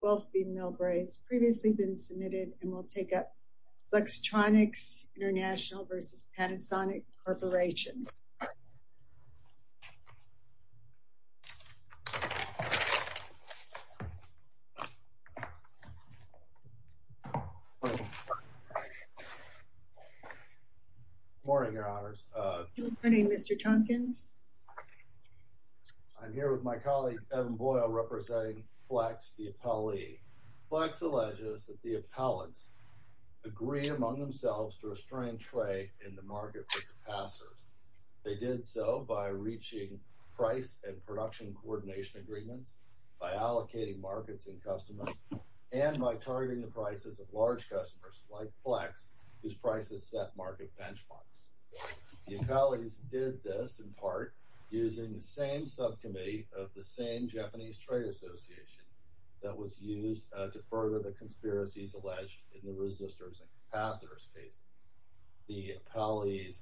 Wealthy Millbrae has previously been submitted and will take up Flextronics International v. Panasonic Corporation. Good morning, Your Honors. Good morning, Mr. Tompkins. I'm here with my colleague, Evan Boyle, representing Flext, the appellee. Flext alleges that the appellants agree among themselves to restrain trade in the market with the passers. They did so by reaching price and production coordination agreements, by allocating markets and customers, and by targeting the prices of large customers, like Flext, whose prices set market benchmarks. The appellees did this, in part, using the same subcommittee of the same Japanese Trade Association that was used to further the conspiracies alleged in the resistors and capacitors case. The appellees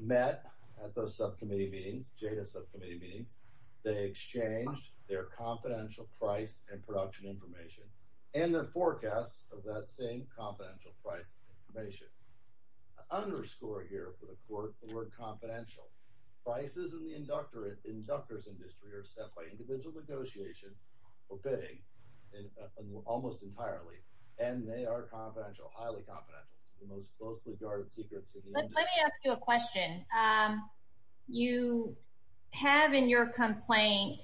met at those subcommittee meetings, JADA subcommittee meetings. They exchanged their confidential price and production information, and their forecasts of that same confidential price information. Underscore here, for the court, the word confidential. Prices in the inductor's industry are set by individual negotiation, or bidding, almost entirely, and they are confidential, highly confidential. It's the most closely guarded secrets in the industry. Let me ask you a question. You have in your complaint,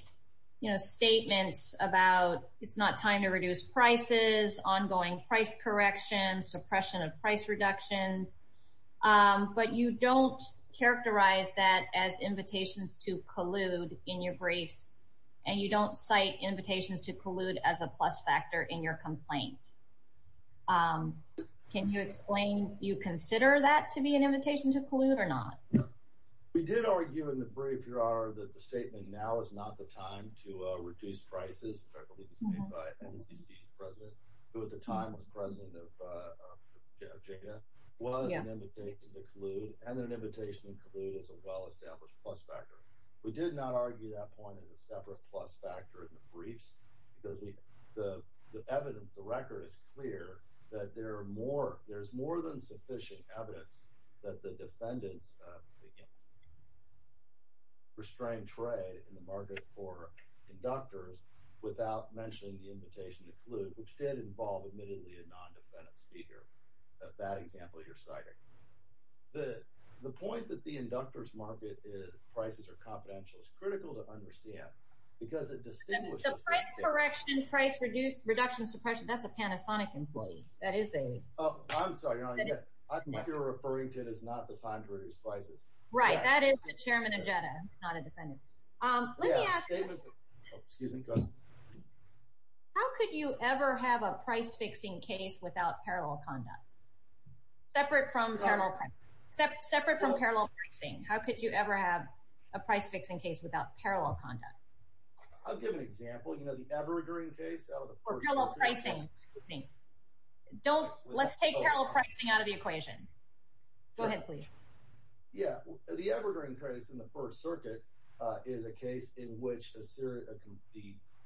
you know, statements about it's not time to reduce prices, ongoing price correction, suppression of price reductions, but you don't characterize that as invitations to collude in your briefs, and you don't cite invitations to collude as a plus factor in your complaint. Can you explain, do you consider that to be an invitation to collude or not? We did argue in the brief, Your Honor, that the statement, now is not the time to reduce prices, which I believe was made by NCC's president, who at the time was president of JADA, was an invitation to collude, and an invitation to collude is a well-established plus factor. We did not argue that point as a separate plus factor in the briefs, because the evidence, the record is clear that there's more than sufficient evidence that the defendants restrained trade in the market for inductors without mentioning the invitation to collude, which did involve admittedly a non-defendant speaker at that example you're citing. The point that the inductors market is prices are confidential is critical to understand The price correction, price reduction suppression, that's a Panasonic employee. I'm sorry, Your Honor, I think you're referring to it as not the time to reduce prices. Right, that is the chairman of JADA, not a defendant. Let me ask you, how could you ever have a price-fixing case without parallel conduct? Separate from parallel pricing. How could you ever have a price-fixing case without parallel conduct? I'll give an example. You know the Evergreen case? Parallel pricing, excuse me. Let's take parallel pricing out of the equation. Go ahead, please. The Evergreen case in the First Circuit is a case in which the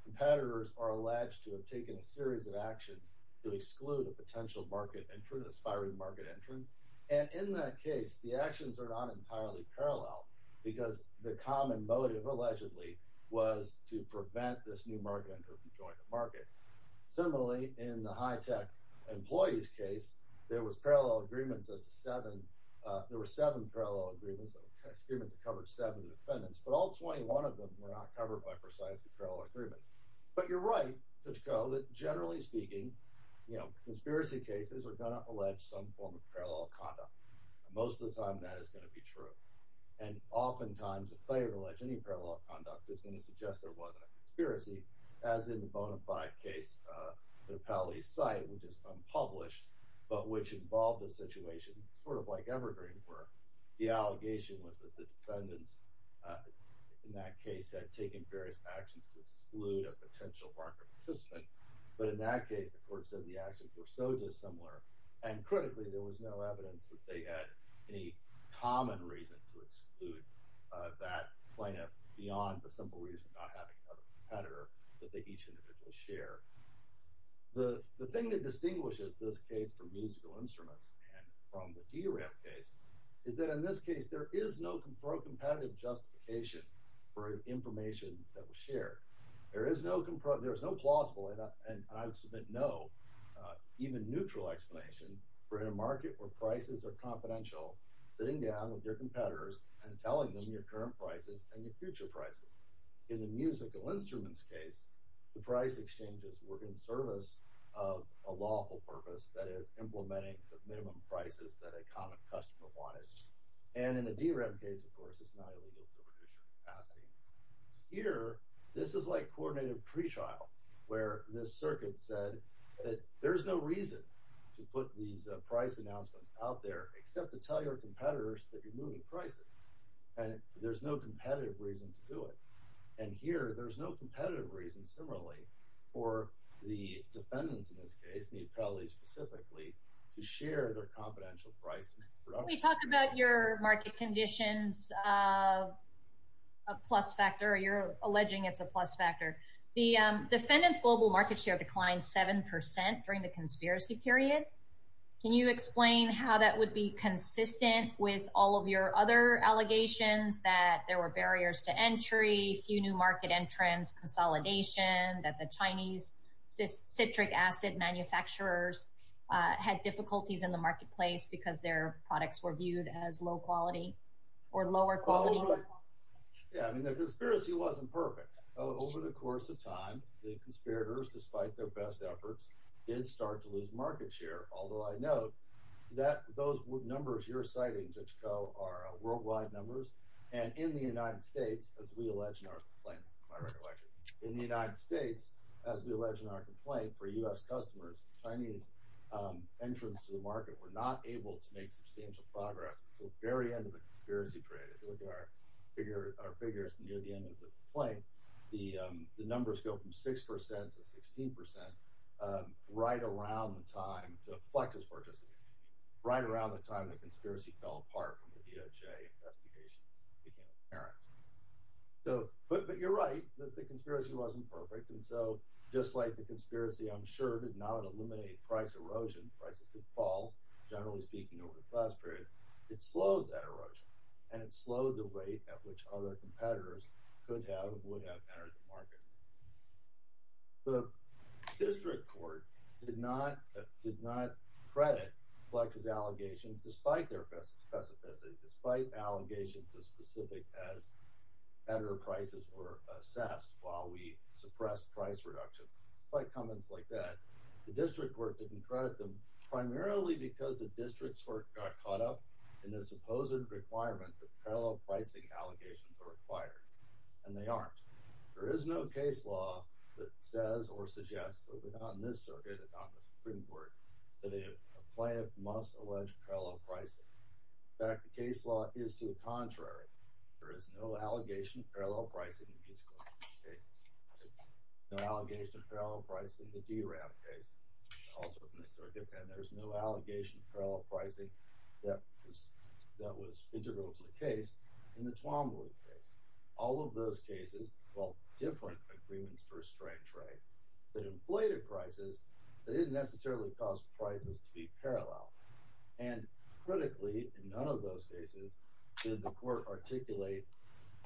competitors are alleged to have taken a series of actions to exclude a potential market entrant, an aspiring market entrant. And in that case, the actions are not entirely parallel because the common motive allegedly was to prevent this new market entrant from joining the market. Similarly, in the high-tech employees case, there were seven parallel agreements that covered seven defendants. But all 21 of them were not covered by precisely parallel agreements. But you're right, Pitchco, that generally speaking, you know, Most of the time, that is going to be true. And oftentimes, a player can allege any parallel conduct that's going to suggest there wasn't a conspiracy, as in the Bonaparte case. The Paley site, which is unpublished, but which involved a situation sort of like Evergreen were. The allegation was that the defendants in that case had taken various actions to exclude a potential market participant. But in that case, the court said the actions were so dissimilar, and critically, there was no evidence that they had any common reason to exclude that plaintiff beyond the simple reason of not having another competitor that they each individually shared. The thing that distinguishes this case from musical instruments and from the DRAM case is that in this case, there is no pro-competitive justification for information that was shared. There is no plausible, and I would submit no, even neutral explanation for in a market where prices are confidential, sitting down with your competitors and telling them your current prices and your future prices. In the musical instruments case, the price exchanges were in service of a lawful purpose, that is, implementing the minimum prices that a common customer wanted. And in the DRAM case, of course, it's not illegal to reduce your capacity. Here, this is like coordinated pretrial, where the circuit said that there's no reason to put these price announcements out there except to tell your competitors that you're moving prices, and there's no competitive reason to do it. And here, there's no competitive reason, similarly, for the defendants in this case, the appellees specifically, to share their confidential prices. Can we talk about your market conditions, a plus factor? You're alleging it's a plus factor. The defendants' global market share declined 7% during the conspiracy period. Can you explain how that would be consistent with all of your other allegations that there were barriers to entry, few new market entrants, consolidation, that the Chinese citric acid manufacturers had difficulties in the marketplace because their products were viewed as low quality or lower quality? Oh, right. Yeah, I mean, the conspiracy wasn't perfect. Over the course of time, the conspirators, despite their best efforts, did start to lose market share, although I note that those numbers you're citing, Judge Koh, are worldwide numbers. And in the United States, as we allege in our complaint, my recollection, in the United States, as we allege in our complaint, for U.S. customers, the Chinese entrants to the market were not able to make substantial progress until the very end of the conspiracy period. If you look at our figures near the end of the complaint, the numbers go from 6% to 16% right around the time the Plexus purchase, right around the time the conspiracy fell apart from the DOJ investigation and became apparent. But you're right that the conspiracy wasn't perfect. And so, just like the conspiracy, I'm sure, did not eliminate price erosion. Prices did fall, generally speaking, over the past period. It slowed that erosion, and it slowed the rate at which other competitors could have or would have entered the market. The district court did not credit Plexus' allegations, despite their pessimistic, despite allegations as specific as better prices were assessed while we suppressed price reduction. Despite comments like that, the district court didn't credit them, primarily because the district's court got caught up in the supposed requirement that parallel pricing allegations are required. And they aren't. There is no case law that says or suggests that we're not in this circuit and not in the Supreme Court that a plaintiff must allege parallel pricing. In fact, the case law is to the contrary. There is no allegation of parallel pricing in these cases. No allegation of parallel pricing in the DRAF case, also in the circuit, and there's no allegation of parallel pricing that was integral to the case in the Tuamalu case. All of those cases involved different agreements to restrain trade that inflated prices that didn't necessarily cause prices to be parallel. And, critically, in none of those cases did the court articulate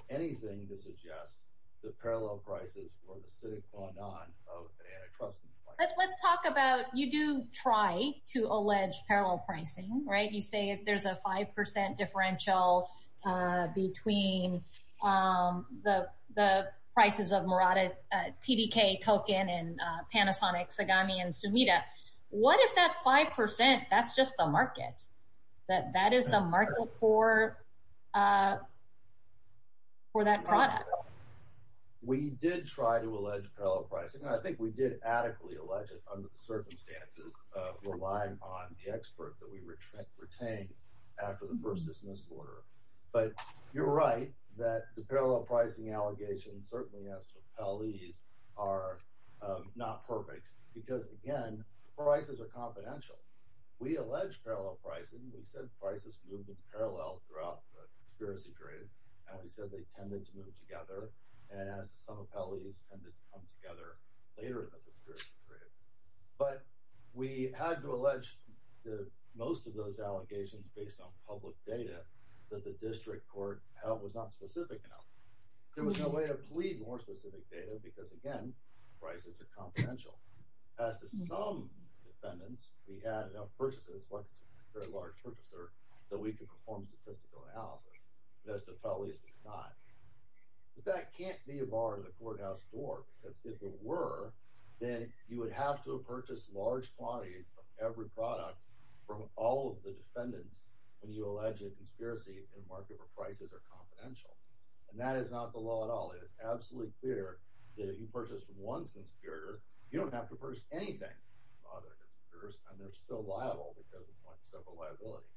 anything to suggest that parallel prices were the sine qua non of the antitrust complaint. But let's talk about you do try to allege parallel pricing, right? You say there's a 5% differential between the prices of Murata TDK token What if that 5%, that's just the market? That that is the market for that product? We did try to allege parallel pricing, and I think we did adequately allege it under the circumstances of relying on the expert that we retained after the first dismissal order. But you're right that the parallel pricing allegations, certainly as to appellees, are not perfect. Because, again, prices are confidential. We allege parallel pricing. We said prices moved in parallel throughout the conspiracy period. We said they tended to move together, and as to some appellees, tended to come together later in the conspiracy period. But we had to allege that most of those allegations, based on public data, that the district court held was not specific enough. There was no way to plead more specific data, because, again, prices are confidential. As to some defendants, we had enough purchases, like a very large purchaser, that we could perform statistical analysis. And as to appellees, we could not. But that can't be a bar in the courthouse door, because if it were, then you would have to have purchased large quantities of every product from all of the defendants when you allege a conspiracy in a market where prices are confidential. And that is not the law at all. It is absolutely clear that if you purchase from one conspirator, you don't have to purchase anything from other conspirators, and they're still liable because of separate liability.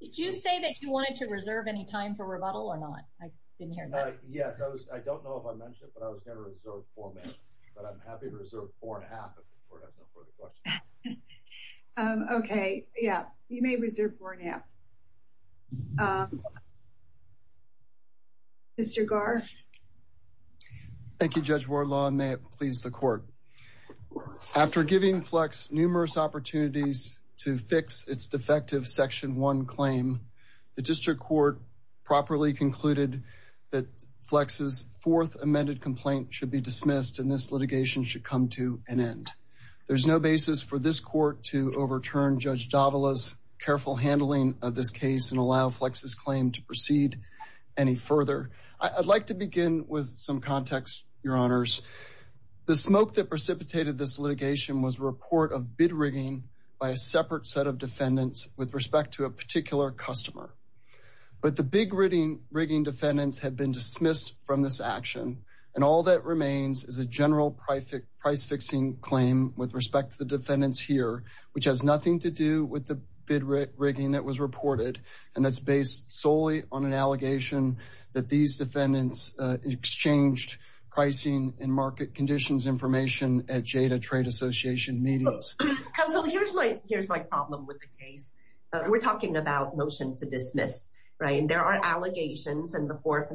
Did you say that you wanted to reserve any time for rebuttal or not? I didn't hear that. Yes, I don't know if I mentioned it, but I was going to reserve four minutes. But I'm happy to reserve four and a half if the court has no further questions. Okay, yeah, you may reserve four and a half. Mr. Garth. Thank you, Judge Wardlaw, and may it please the court. After giving Flex numerous opportunities to fix its defective Section 1 claim, the district court properly concluded that Flex's fourth amended complaint should be dismissed, and this litigation should come to an end. There's no basis for this court to overturn Judge Davila's careful handling of this case and allow Flex's claim to proceed any further. I'd like to begin with some context, Your Honors. The smoke that precipitated this litigation was a report of bid rigging by a separate set of defendants with respect to a particular customer. But the big rigging defendants have been dismissed from this action, and all that remains is a general price-fixing claim with respect to the defendants here, which has nothing to do with the bid rigging that was reported, and that's based solely on an allegation that these defendants exchanged pricing and market conditions information at Jada Trade Association meetings. Counsel, here's my problem with the case. We're talking about motion to dismiss, right? There are allegations in the fourth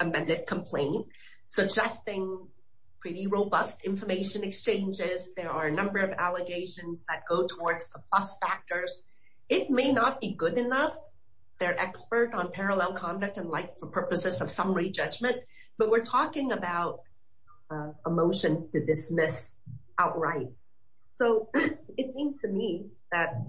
amended complaint suggesting pretty robust information exchanges. There are a number of allegations that go towards the plus factors. It may not be good enough. They're expert on parallel conduct and like for purposes of summary judgment, but we're talking about a motion to dismiss outright. So it seems to me that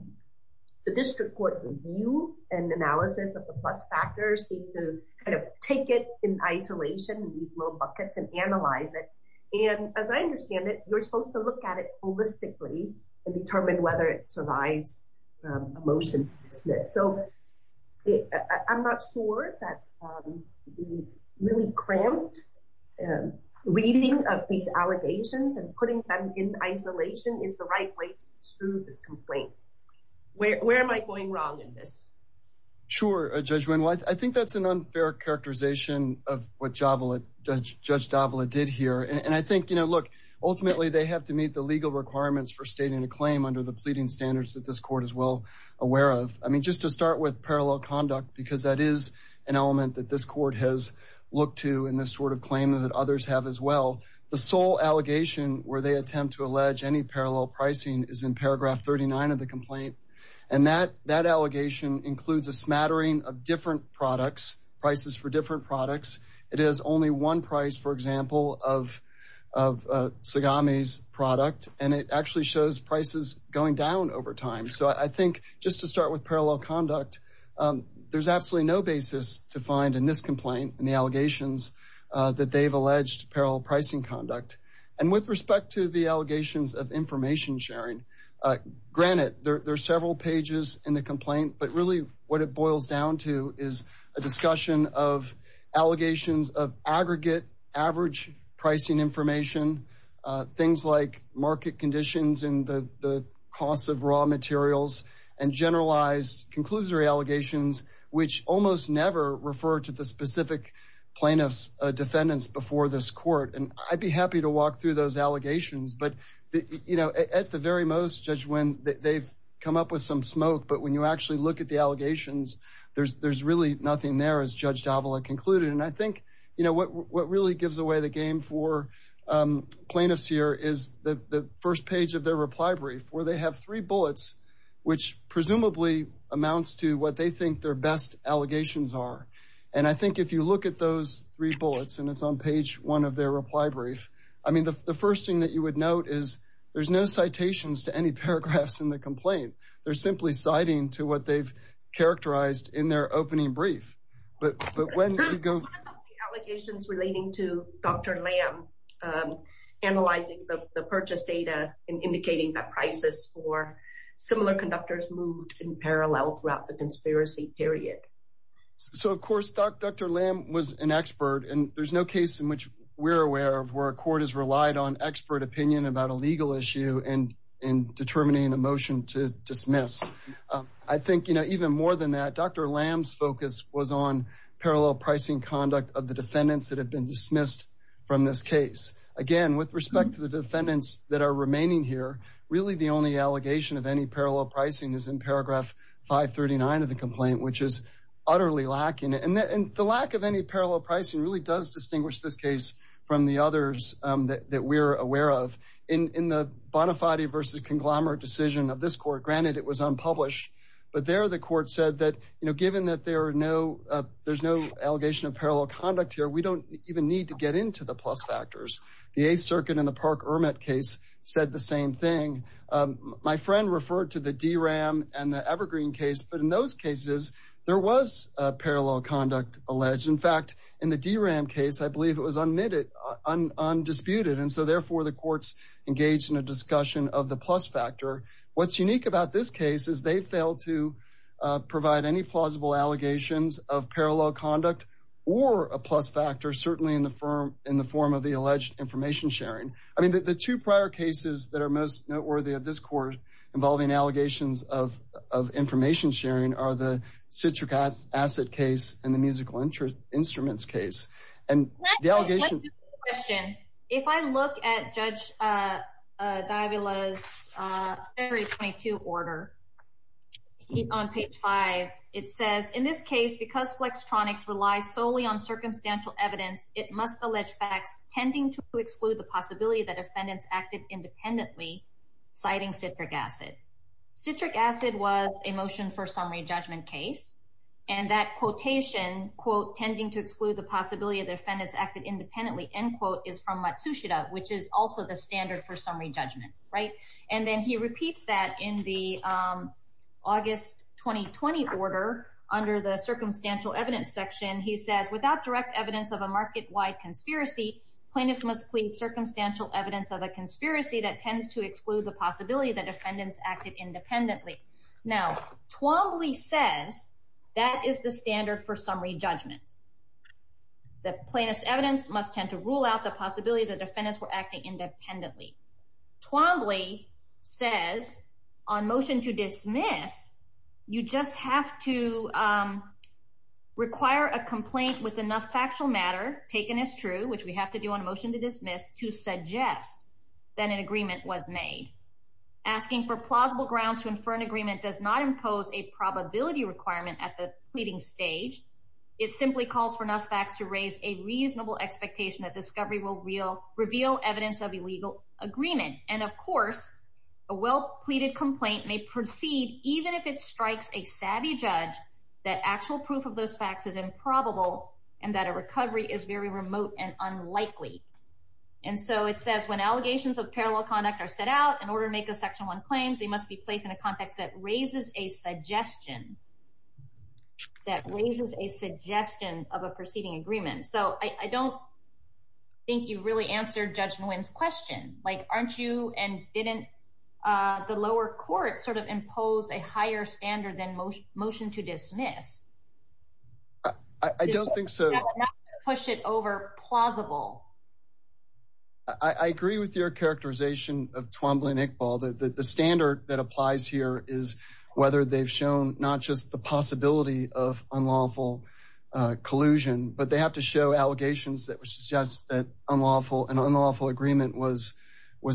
the district court review and analysis of the plus factors seem to kind of take it in isolation, these little buckets, and analyze it. And as I understand it, you're supposed to look at it holistically and determine whether it survives a motion to dismiss. So I'm not sure that really cramped reading of these allegations and putting them in isolation is the right way to disprove this complaint. Where am I going wrong in this? Sure, Judge Wendel. I think that's an unfair characterization of what Judge Davila did here, and I think, look, ultimately they have to meet the legal requirements for stating a claim under the pleading standards that this court is well aware of. I mean, just to start with parallel conduct, because that is an element that this court has looked to in this sort of claim that others have as well. The sole allegation where they attempt to allege any parallel pricing is in paragraph 39 of the complaint, and that allegation includes a smattering of different products, prices for different products. It is only one price, for example, of Tsugami's product, and it actually shows prices going down over time. So I think just to start with parallel conduct, there's absolutely no basis to find in this complaint in the allegations that they've alleged parallel pricing conduct. And with respect to the allegations of information sharing, granted, there are several pages in the complaint, but really what it boils down to is a discussion of allegations of aggregate average pricing information, things like market conditions and the costs of raw materials, and generalized conclusory allegations, which almost never refer to the specific plaintiff's defendants before this court. And I'd be happy to walk through those allegations, but, you know, at the very most, Judge Nguyen, they've come up with some smoke, but when you actually look at the allegations, there's really nothing there, as Judge Davila concluded. And I think, you know, what really gives away the game for plaintiffs here is the first page of their reply brief, where they have three bullets, which presumably amounts to what they think their best allegations are. And I think if you look at those three bullets, and it's on page one of their reply brief, I mean, the first thing that you would note is there's no citations to any paragraphs in the complaint. They're simply citing to what they've characterized in their opening brief. But when you go... One of the allegations relating to Dr. Lam analyzing the purchase data and indicating that prices for similar conductors moved in parallel throughout the conspiracy period. So, of course, Dr. Lam was an expert, and there's no case in which we're aware of where a court has relied on expert opinion about a legal issue in determining a motion to dismiss. I think, you know, even more than that, Dr. Lam's focus was on parallel pricing conduct of the defendants that have been dismissed from this case. Again, with respect to the defendants that are remaining here, really the only allegation of any parallel pricing is in paragraph 539 of the complaint, which is utterly lacking. And the lack of any parallel pricing really does distinguish this case from the others that we're aware of. In the Bonafati v. Conglomerate decision of this court, granted it was unpublished, but there the court said that, you know, given that there are no... there's no allegation of parallel conduct here, we don't even need to get into the plus factors. The Eighth Circuit in the Park-Ermet case said the same thing. My friend referred to the DRAM and the Evergreen case, but in those cases, there was parallel conduct alleged. In fact, in the DRAM case, I believe it was unmitted, undisputed, and so therefore the court's engaged in a discussion of the plus factor. What's unique about this case is they failed to provide any plausible allegations of parallel conduct or a plus factor, certainly in the form of the alleged information sharing. I mean, the two prior cases that are most noteworthy of this court involving allegations of information sharing are the Citric Acid case and the Musical Instruments case. And the allegation... Let me ask you a question. If I look at Judge D'Avila's February 22 order on page 5, it says, in this case, because Flextronics relies solely on circumstantial evidence, it must allege facts tending to exclude the possibility that defendants acted independently, citing Citric Acid. Citric Acid was a motion for summary judgment case, and that quotation, quote, is from Matsushita, which is also the standard for summary judgment, right? And then he repeats that in the August 2020 order under the circumstantial evidence section. He says, Now, Twombly says that is the standard for summary judgment. The plaintiff's evidence must tend to rule out the possibility that defendants were acting independently. Twombly says, on motion to dismiss, you just have to require a complaint with enough factual matter taken as true, which we have to do on a motion to dismiss, Asking for plausible grounds to infer an agreement does not impose a probability requirement at the pleading stage. It simply calls for enough facts to raise a reasonable expectation that discovery will reveal evidence of illegal agreement. And of course, a well-pleaded complaint may proceed even if it strikes a savvy judge that actual proof of those facts is improbable and that a recovery is very remote and unlikely. And so it says, when allegations of parallel conduct are set out in order to make a Section 1 claim, they must be placed in a context that raises a suggestion that raises a suggestion of a proceeding agreement. So I don't think you really answered Judge Nguyen's question. Like, aren't you and didn't the lower court sort of impose a higher standard than motion to dismiss? I don't think so. Push it over plausible. I agree with your characterization of Twombly and Iqbal. The standard that applies here is whether they've shown not just the possibility of unlawful collusion, but they have to show allegations that would suggest that an unlawful agreement was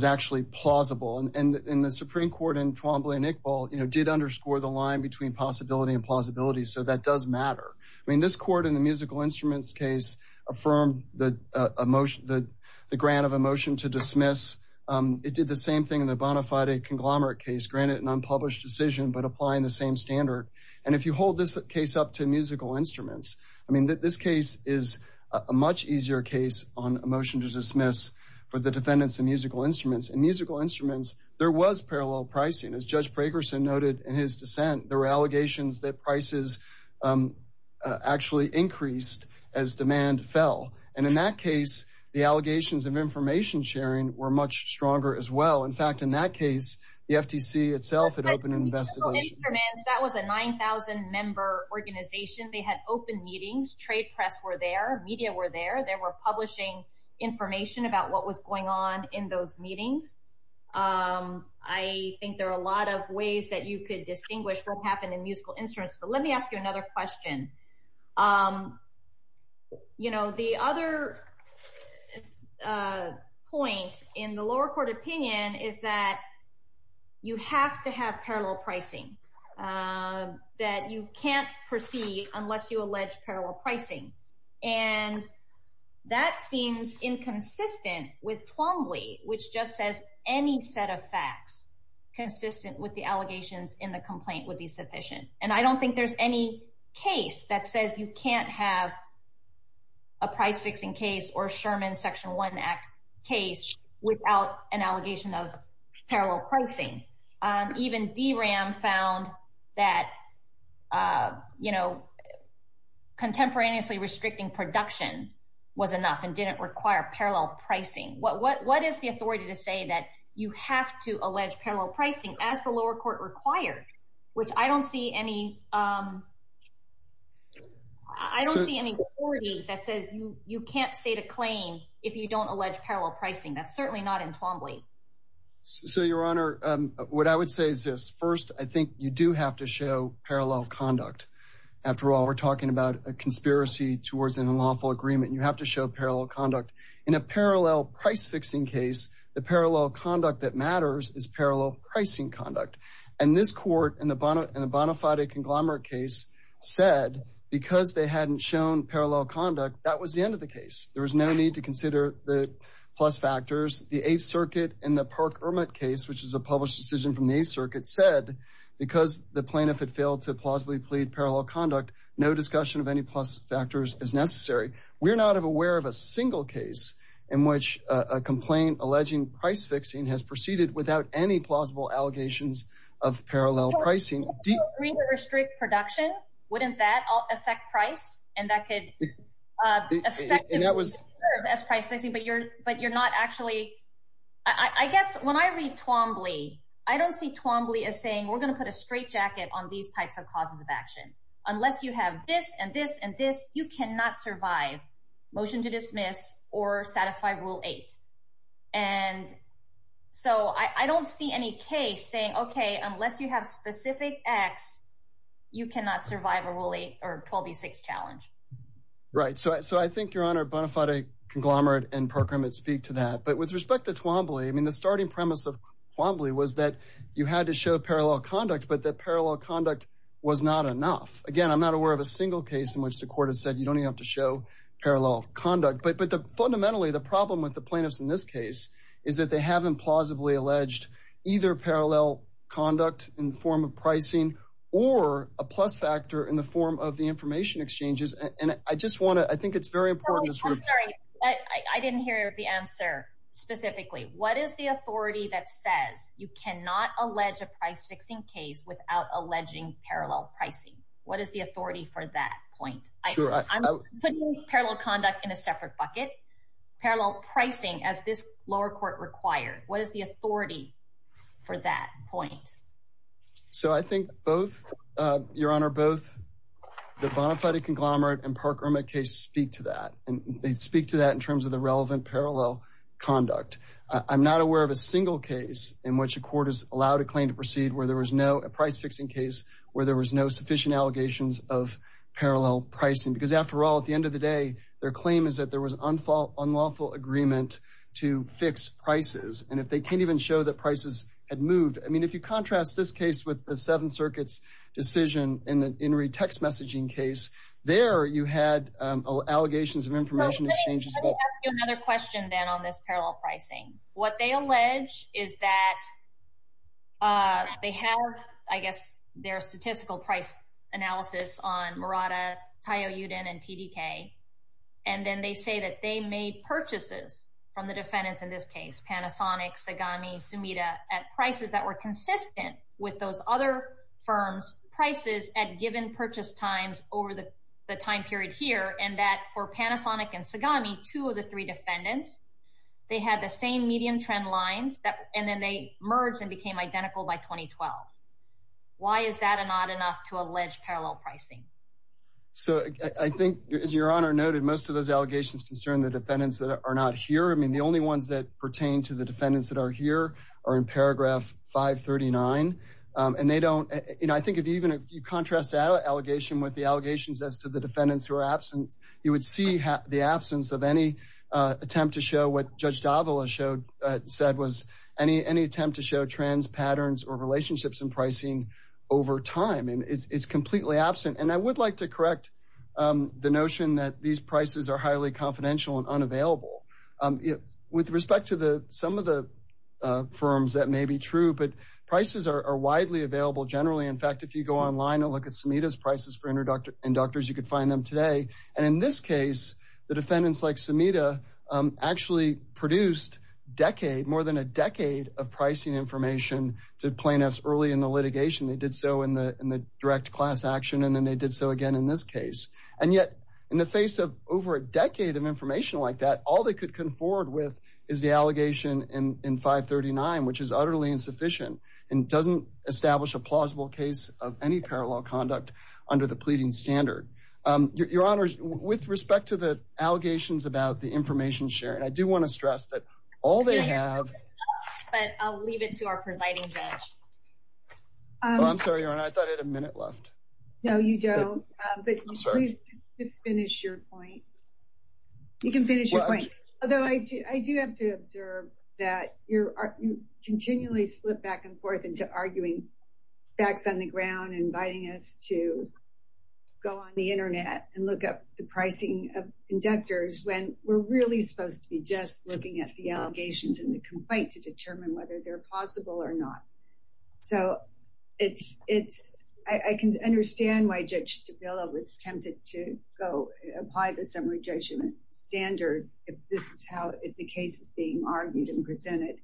actually plausible. And the Supreme Court in Twombly and Iqbal did underscore the line between possibility and plausibility. So that does matter. affirmed the grant of a motion to dismiss. It did the same thing in the Bonafide conglomerate case, granted an unpublished decision, but applying the same standard. And if you hold this case up to musical instruments, I mean that this case is a much easier case on a motion to dismiss for the defendants and musical instruments and musical instruments, there was parallel pricing. As Judge Prakerson noted in his dissent, there were allegations that prices actually increased as demand fell. And in that case, the allegations of information sharing were much stronger as well. In fact, in that case, the FTC itself had opened an investigation. That was a 9,000 member organization. They had open meetings. Trade press were there. Media were there. They were publishing information about what was going on in those meetings. I think there are a lot of ways that you could distinguish what happened in musical instruments. But let me ask you another question. The other point in the lower court opinion is that you have to have parallel pricing, that you can't proceed unless you allege parallel pricing. And that seems inconsistent with Plumbly, which just says any set of facts consistent with the allegations in the complaint would be sufficient. And I don't think there's any case that says you can't have a price-fixing case or Sherman Section 1 Act case without an allegation of parallel pricing. Even DRAM found that contemporaneously restricting production was enough and didn't require parallel pricing. What is the authority to say that you have to allege parallel pricing as the lower court required, which I don't see any authority that says you can't state a claim if you don't allege parallel pricing. That's certainly not in Plumbly. So, Your Honor, what I would say is this. First, I think you do have to show parallel conduct. After all, we're talking about a conspiracy towards an unlawful agreement. You have to show parallel conduct. In a parallel price-fixing case, the parallel conduct that matters is parallel pricing conduct. And this court in the Bonafide conglomerate case said because they hadn't shown parallel conduct, that was the end of the case. There was no need to consider the plus factors. The Eighth Circuit in the Park-Ermit case, which is a published decision from the Eighth Circuit, said because the plaintiff had failed to plausibly plead parallel conduct, no discussion of any plus factors is necessary. We're not aware of a single case in which a complaint alleging price-fixing has proceeded without any plausible allegations of parallel pricing. If you agree to restrict production, wouldn't that affect price? And that could affect the best price-fixing, but you're not actually... I guess when I read Plumbly, I don't see Plumbly as saying, we're going to put a straitjacket on these types of causes of action. Unless you have this and this and this, you cannot survive motion to dismiss or satisfy Rule 8. And so I don't see any case saying, okay, unless you have specific X, you cannot survive a Rule 8 or 12B6 challenge. Right. So I think Your Honor, Bonifati, Conglomerate, and Park-Ermit speak to that. But with respect to Plumbly, I mean, the starting premise of Plumbly was that you had to show parallel conduct, but that parallel conduct was not enough. Again, I'm not aware of a single case in which the court has said, you don't even have to show parallel conduct. But fundamentally, the problem with the plaintiffs in this case is that they haven't plausibly alleged either parallel conduct in the form of pricing or a plus factor in the form of the information exchanges. And I just want to... I think it's very important... I'm sorry. I didn't hear the answer specifically. What is the authority that says you cannot allege a price-fixing case without alleging parallel pricing? What is the authority for that point? I'm putting parallel conduct in a separate bucket. Parallel pricing, as this lower court required. What is the authority for that point? So I think both, Your Honor, both the Bonafide conglomerate and Park-Ermit case speak to that. And they speak to that in terms of the relevant parallel conduct. I'm not aware of a single case in which a court has allowed a claim to proceed where there was no price-fixing case, where there was no sufficient allegations of parallel pricing. Because after all, at the end of the day, their claim is that there was an unlawful agreement to fix prices. And if they can't even show that prices had moved... I mean, if you contrast this case with the Seventh Circuit's decision in the Inouye text messaging case, there you had allegations of information exchanges... Let me ask you another question, then, on this parallel pricing. What they allege is that they have, I guess, their statistical price analysis on Murata, Tayo Yudin, and TDK. And then they say that they made purchases from the defendants in this case, Panasonic, Sagami, Sumida, at prices that were consistent with those other firms' prices at given purchase times over the time period here, and that for Panasonic and Sagami, two of the three defendants, they had the same median trend lines, and then they merged and became identical by 2012. Why is that not enough to allege parallel pricing? So, I think, as Your Honor noted, most of those allegations concern the defendants that are not here. I mean, the only ones that pertain to the defendants that are here are in paragraph 539. And they don't... And I think if you contrast that allegation with the allegations as to the defendants who are absent, you would see the absence of any attempt to show what Judge Davila said was any attempt to show trends, patterns, or relationships in pricing over time. And it's completely absent. And I would like to correct the notion that these prices are highly confidential and unavailable. With respect to some of the firms, that may be true, but prices are widely available generally. In fact, if you go online and look at Sumida's prices for inductors, you could find them today. And in this case, the defendants like Sumida actually produced more than a decade of pricing information to plaintiffs early in the litigation. They did so in the direct class action, and then they did so again in this case. And yet, in the face of over a decade of information like that, all they could conford with is the allegation in 539, which is utterly insufficient and doesn't establish a plausible case of any parallel conduct under the pleading standard. Your Honor, with respect to the allegations about the information sharing, I do want to stress that all they have... But I'll leave it to our presiding judge. I'm sorry, Your Honor, I thought I had a minute left. No, you don't. But please finish your point. You can finish your point. Although I do have to observe that you continually slip back and forth into arguing facts on the ground, inviting us to go on the internet and look up the pricing of inductors when we're really supposed to be just looking at the allegations in the complaint to determine whether they're plausible or not. So it's... I can understand why Judge Davila was tempted to go apply the summary judgment standard if this is how the case is being argued and presented.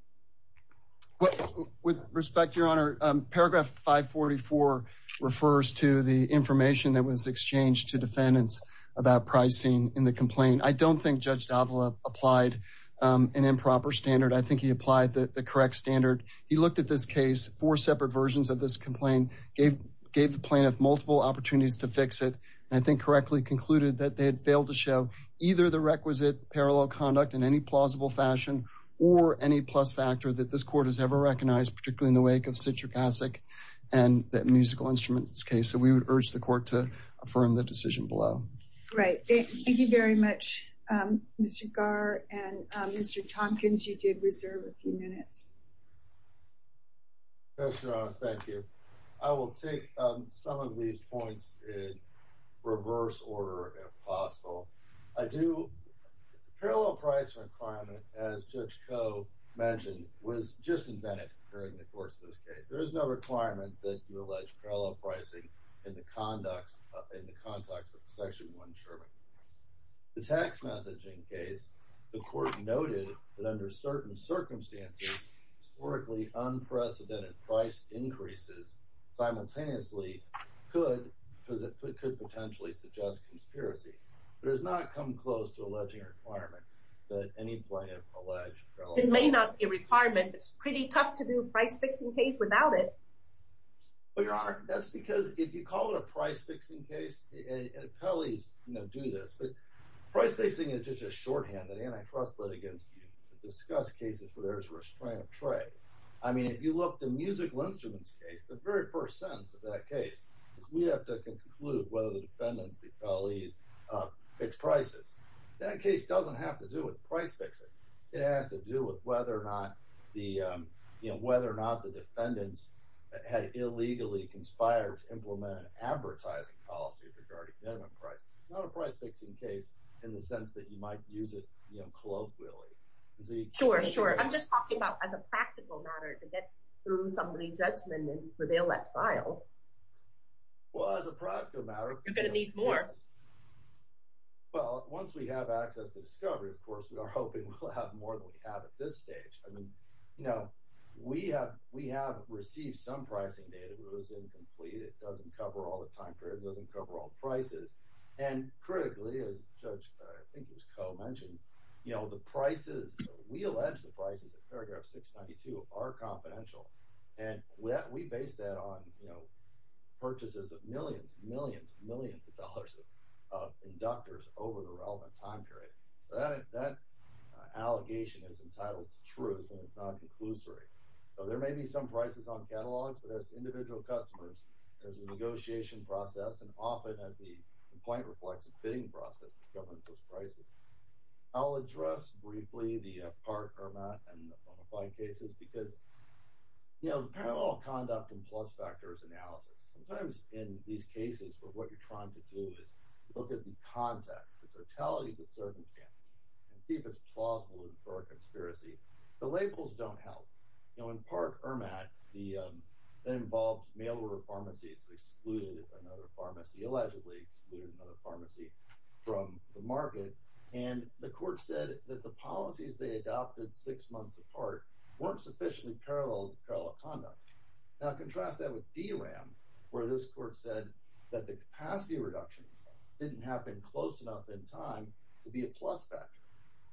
With respect, Your Honor, paragraph 544 refers to the information that was exchanged to defendants about pricing in the complaint. I don't think Judge Davila applied an improper standard. I think he applied the correct standard. He looked at this case, four separate versions of this complaint, gave the plaintiff multiple opportunities to fix it, and I think correctly concluded that they had failed to show either the requisite parallel conduct in any plausible fashion or any plus factor that this court has ever recognized, particularly in the wake of Citric Acid and that musical instrument case. So we would urge the court to affirm the decision below. Right. Thank you very much, Mr. Garr and Mr. Tompkins. You did reserve a few minutes. Thank you, Your Honor. Thank you. I will take some of these points in reverse order, if possible. I do... The parallel price requirement, as Judge Koh mentioned, was just invented during the course of this case. There is no requirement that you allege parallel pricing in the context of Section 1 insurement. The tax messaging case, the court noted that under certain circumstances, historically unprecedented price increases simultaneously could potentially suggest conspiracy. It has not come close to alleging a requirement that any plaintiff allege parallel pricing. It may not be a requirement. It's pretty tough to do a price-fixing case without it. But, Your Honor, that's because if you call it a price-fixing case, and appellees do this, but price-fixing is just a shorthand that antitrust litigants use to discuss cases where there is a restraint of trade. I mean, if you look at the musical instruments case, the very first sentence of that case is we have to conclude whether the defendants, the appellees, fix prices. That case doesn't have to do with price-fixing. It has to do with whether or not the defendants had illegally conspired to implement an advertising policy regarding minimum prices. It's not a price-fixing case in the sense that you might use it, you know, colloquially. Sure, sure. I'm just talking about as a practical matter to get through somebody's judgment and reveal that file. Well, as a practical matter... You're going to need more. Well, once we have access to discovery, of course, we are hoping we'll have more than we have at this stage. I mean, you know, we have received some pricing data that was incomplete. It doesn't cover all the time periods. It doesn't cover all the prices. And critically, as Judge, I think it was, Coe mentioned, you know, the prices... We allege the prices in paragraph 692 are confidential. And we base that on, you know, purchases of millions, millions, millions of dollars of inductors over the relevant time period. Well, that allegation is entitled to truth and it's not a conclusory. So there may be some prices on catalogs, but as to individual customers, there's a negotiation process and often as the complaint reflects a bidding process that governs those prices. I'll address briefly the Part, Hermat, and the Bonaparte cases because, you know, the parallel conduct and plus-factors analysis, sometimes in these cases where what you're trying to do is look at the context, the totality of the circumstance and see if it's plausible for a conspiracy. The labels don't help. You know, in Part, Hermat, that involved mail-order pharmacies excluded another pharmacy, allegedly excluded another pharmacy from the market. And the court said that the policies they adopted six months apart weren't sufficiently parallel to parallel conduct. Now, contrast that with D-RAM, where this court said that the capacity reductions didn't happen close enough in time to be a plus-factor.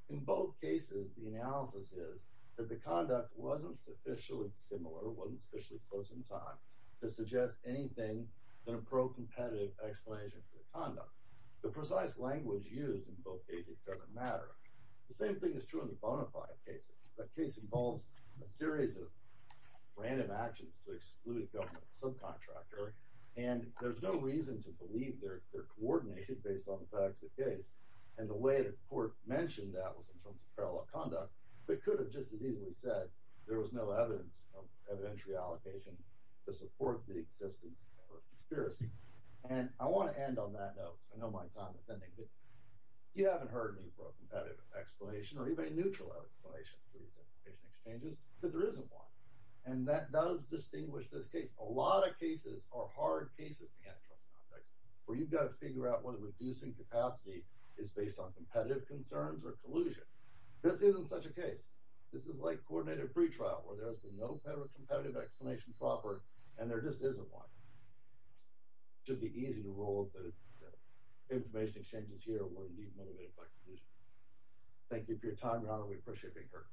In both cases, the analysis is that the conduct wasn't sufficiently similar, wasn't sufficiently close in time to suggest anything than a pro-competitive explanation for the conduct. The precise language used in both cases doesn't matter. The same thing is true in the Bonaparte cases. The case involves a series of random actions to exclude a government subcontractor and there's no reason to believe they're coordinated based on the facts of the case. And the way the court mentioned that was in terms of parallel conduct, but could have just as easily said there was no evidence of evidentiary allocation to support the existence of a conspiracy. And I want to end on that note. I know my time is ending, but you haven't heard me for a competitive explanation or even a neutral explanation for these exchanges because there isn't one. And that does distinguish this case. A lot of cases are hard cases in the antitrust context where you've got to figure out whether reducing capacity is based on competitive concerns or collusion. This isn't such a case. This is like coordinated pretrial where there's no competitive explanation proper and there just isn't one. It should be easy to rule that the information exchanges here were indeed motivated by collusion. Thank you for your time, Ronald. We appreciate being here.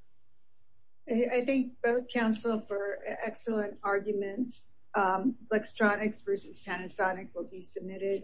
I think both counsel for excellent arguments. LexTronics versus Panasonic will be submitted.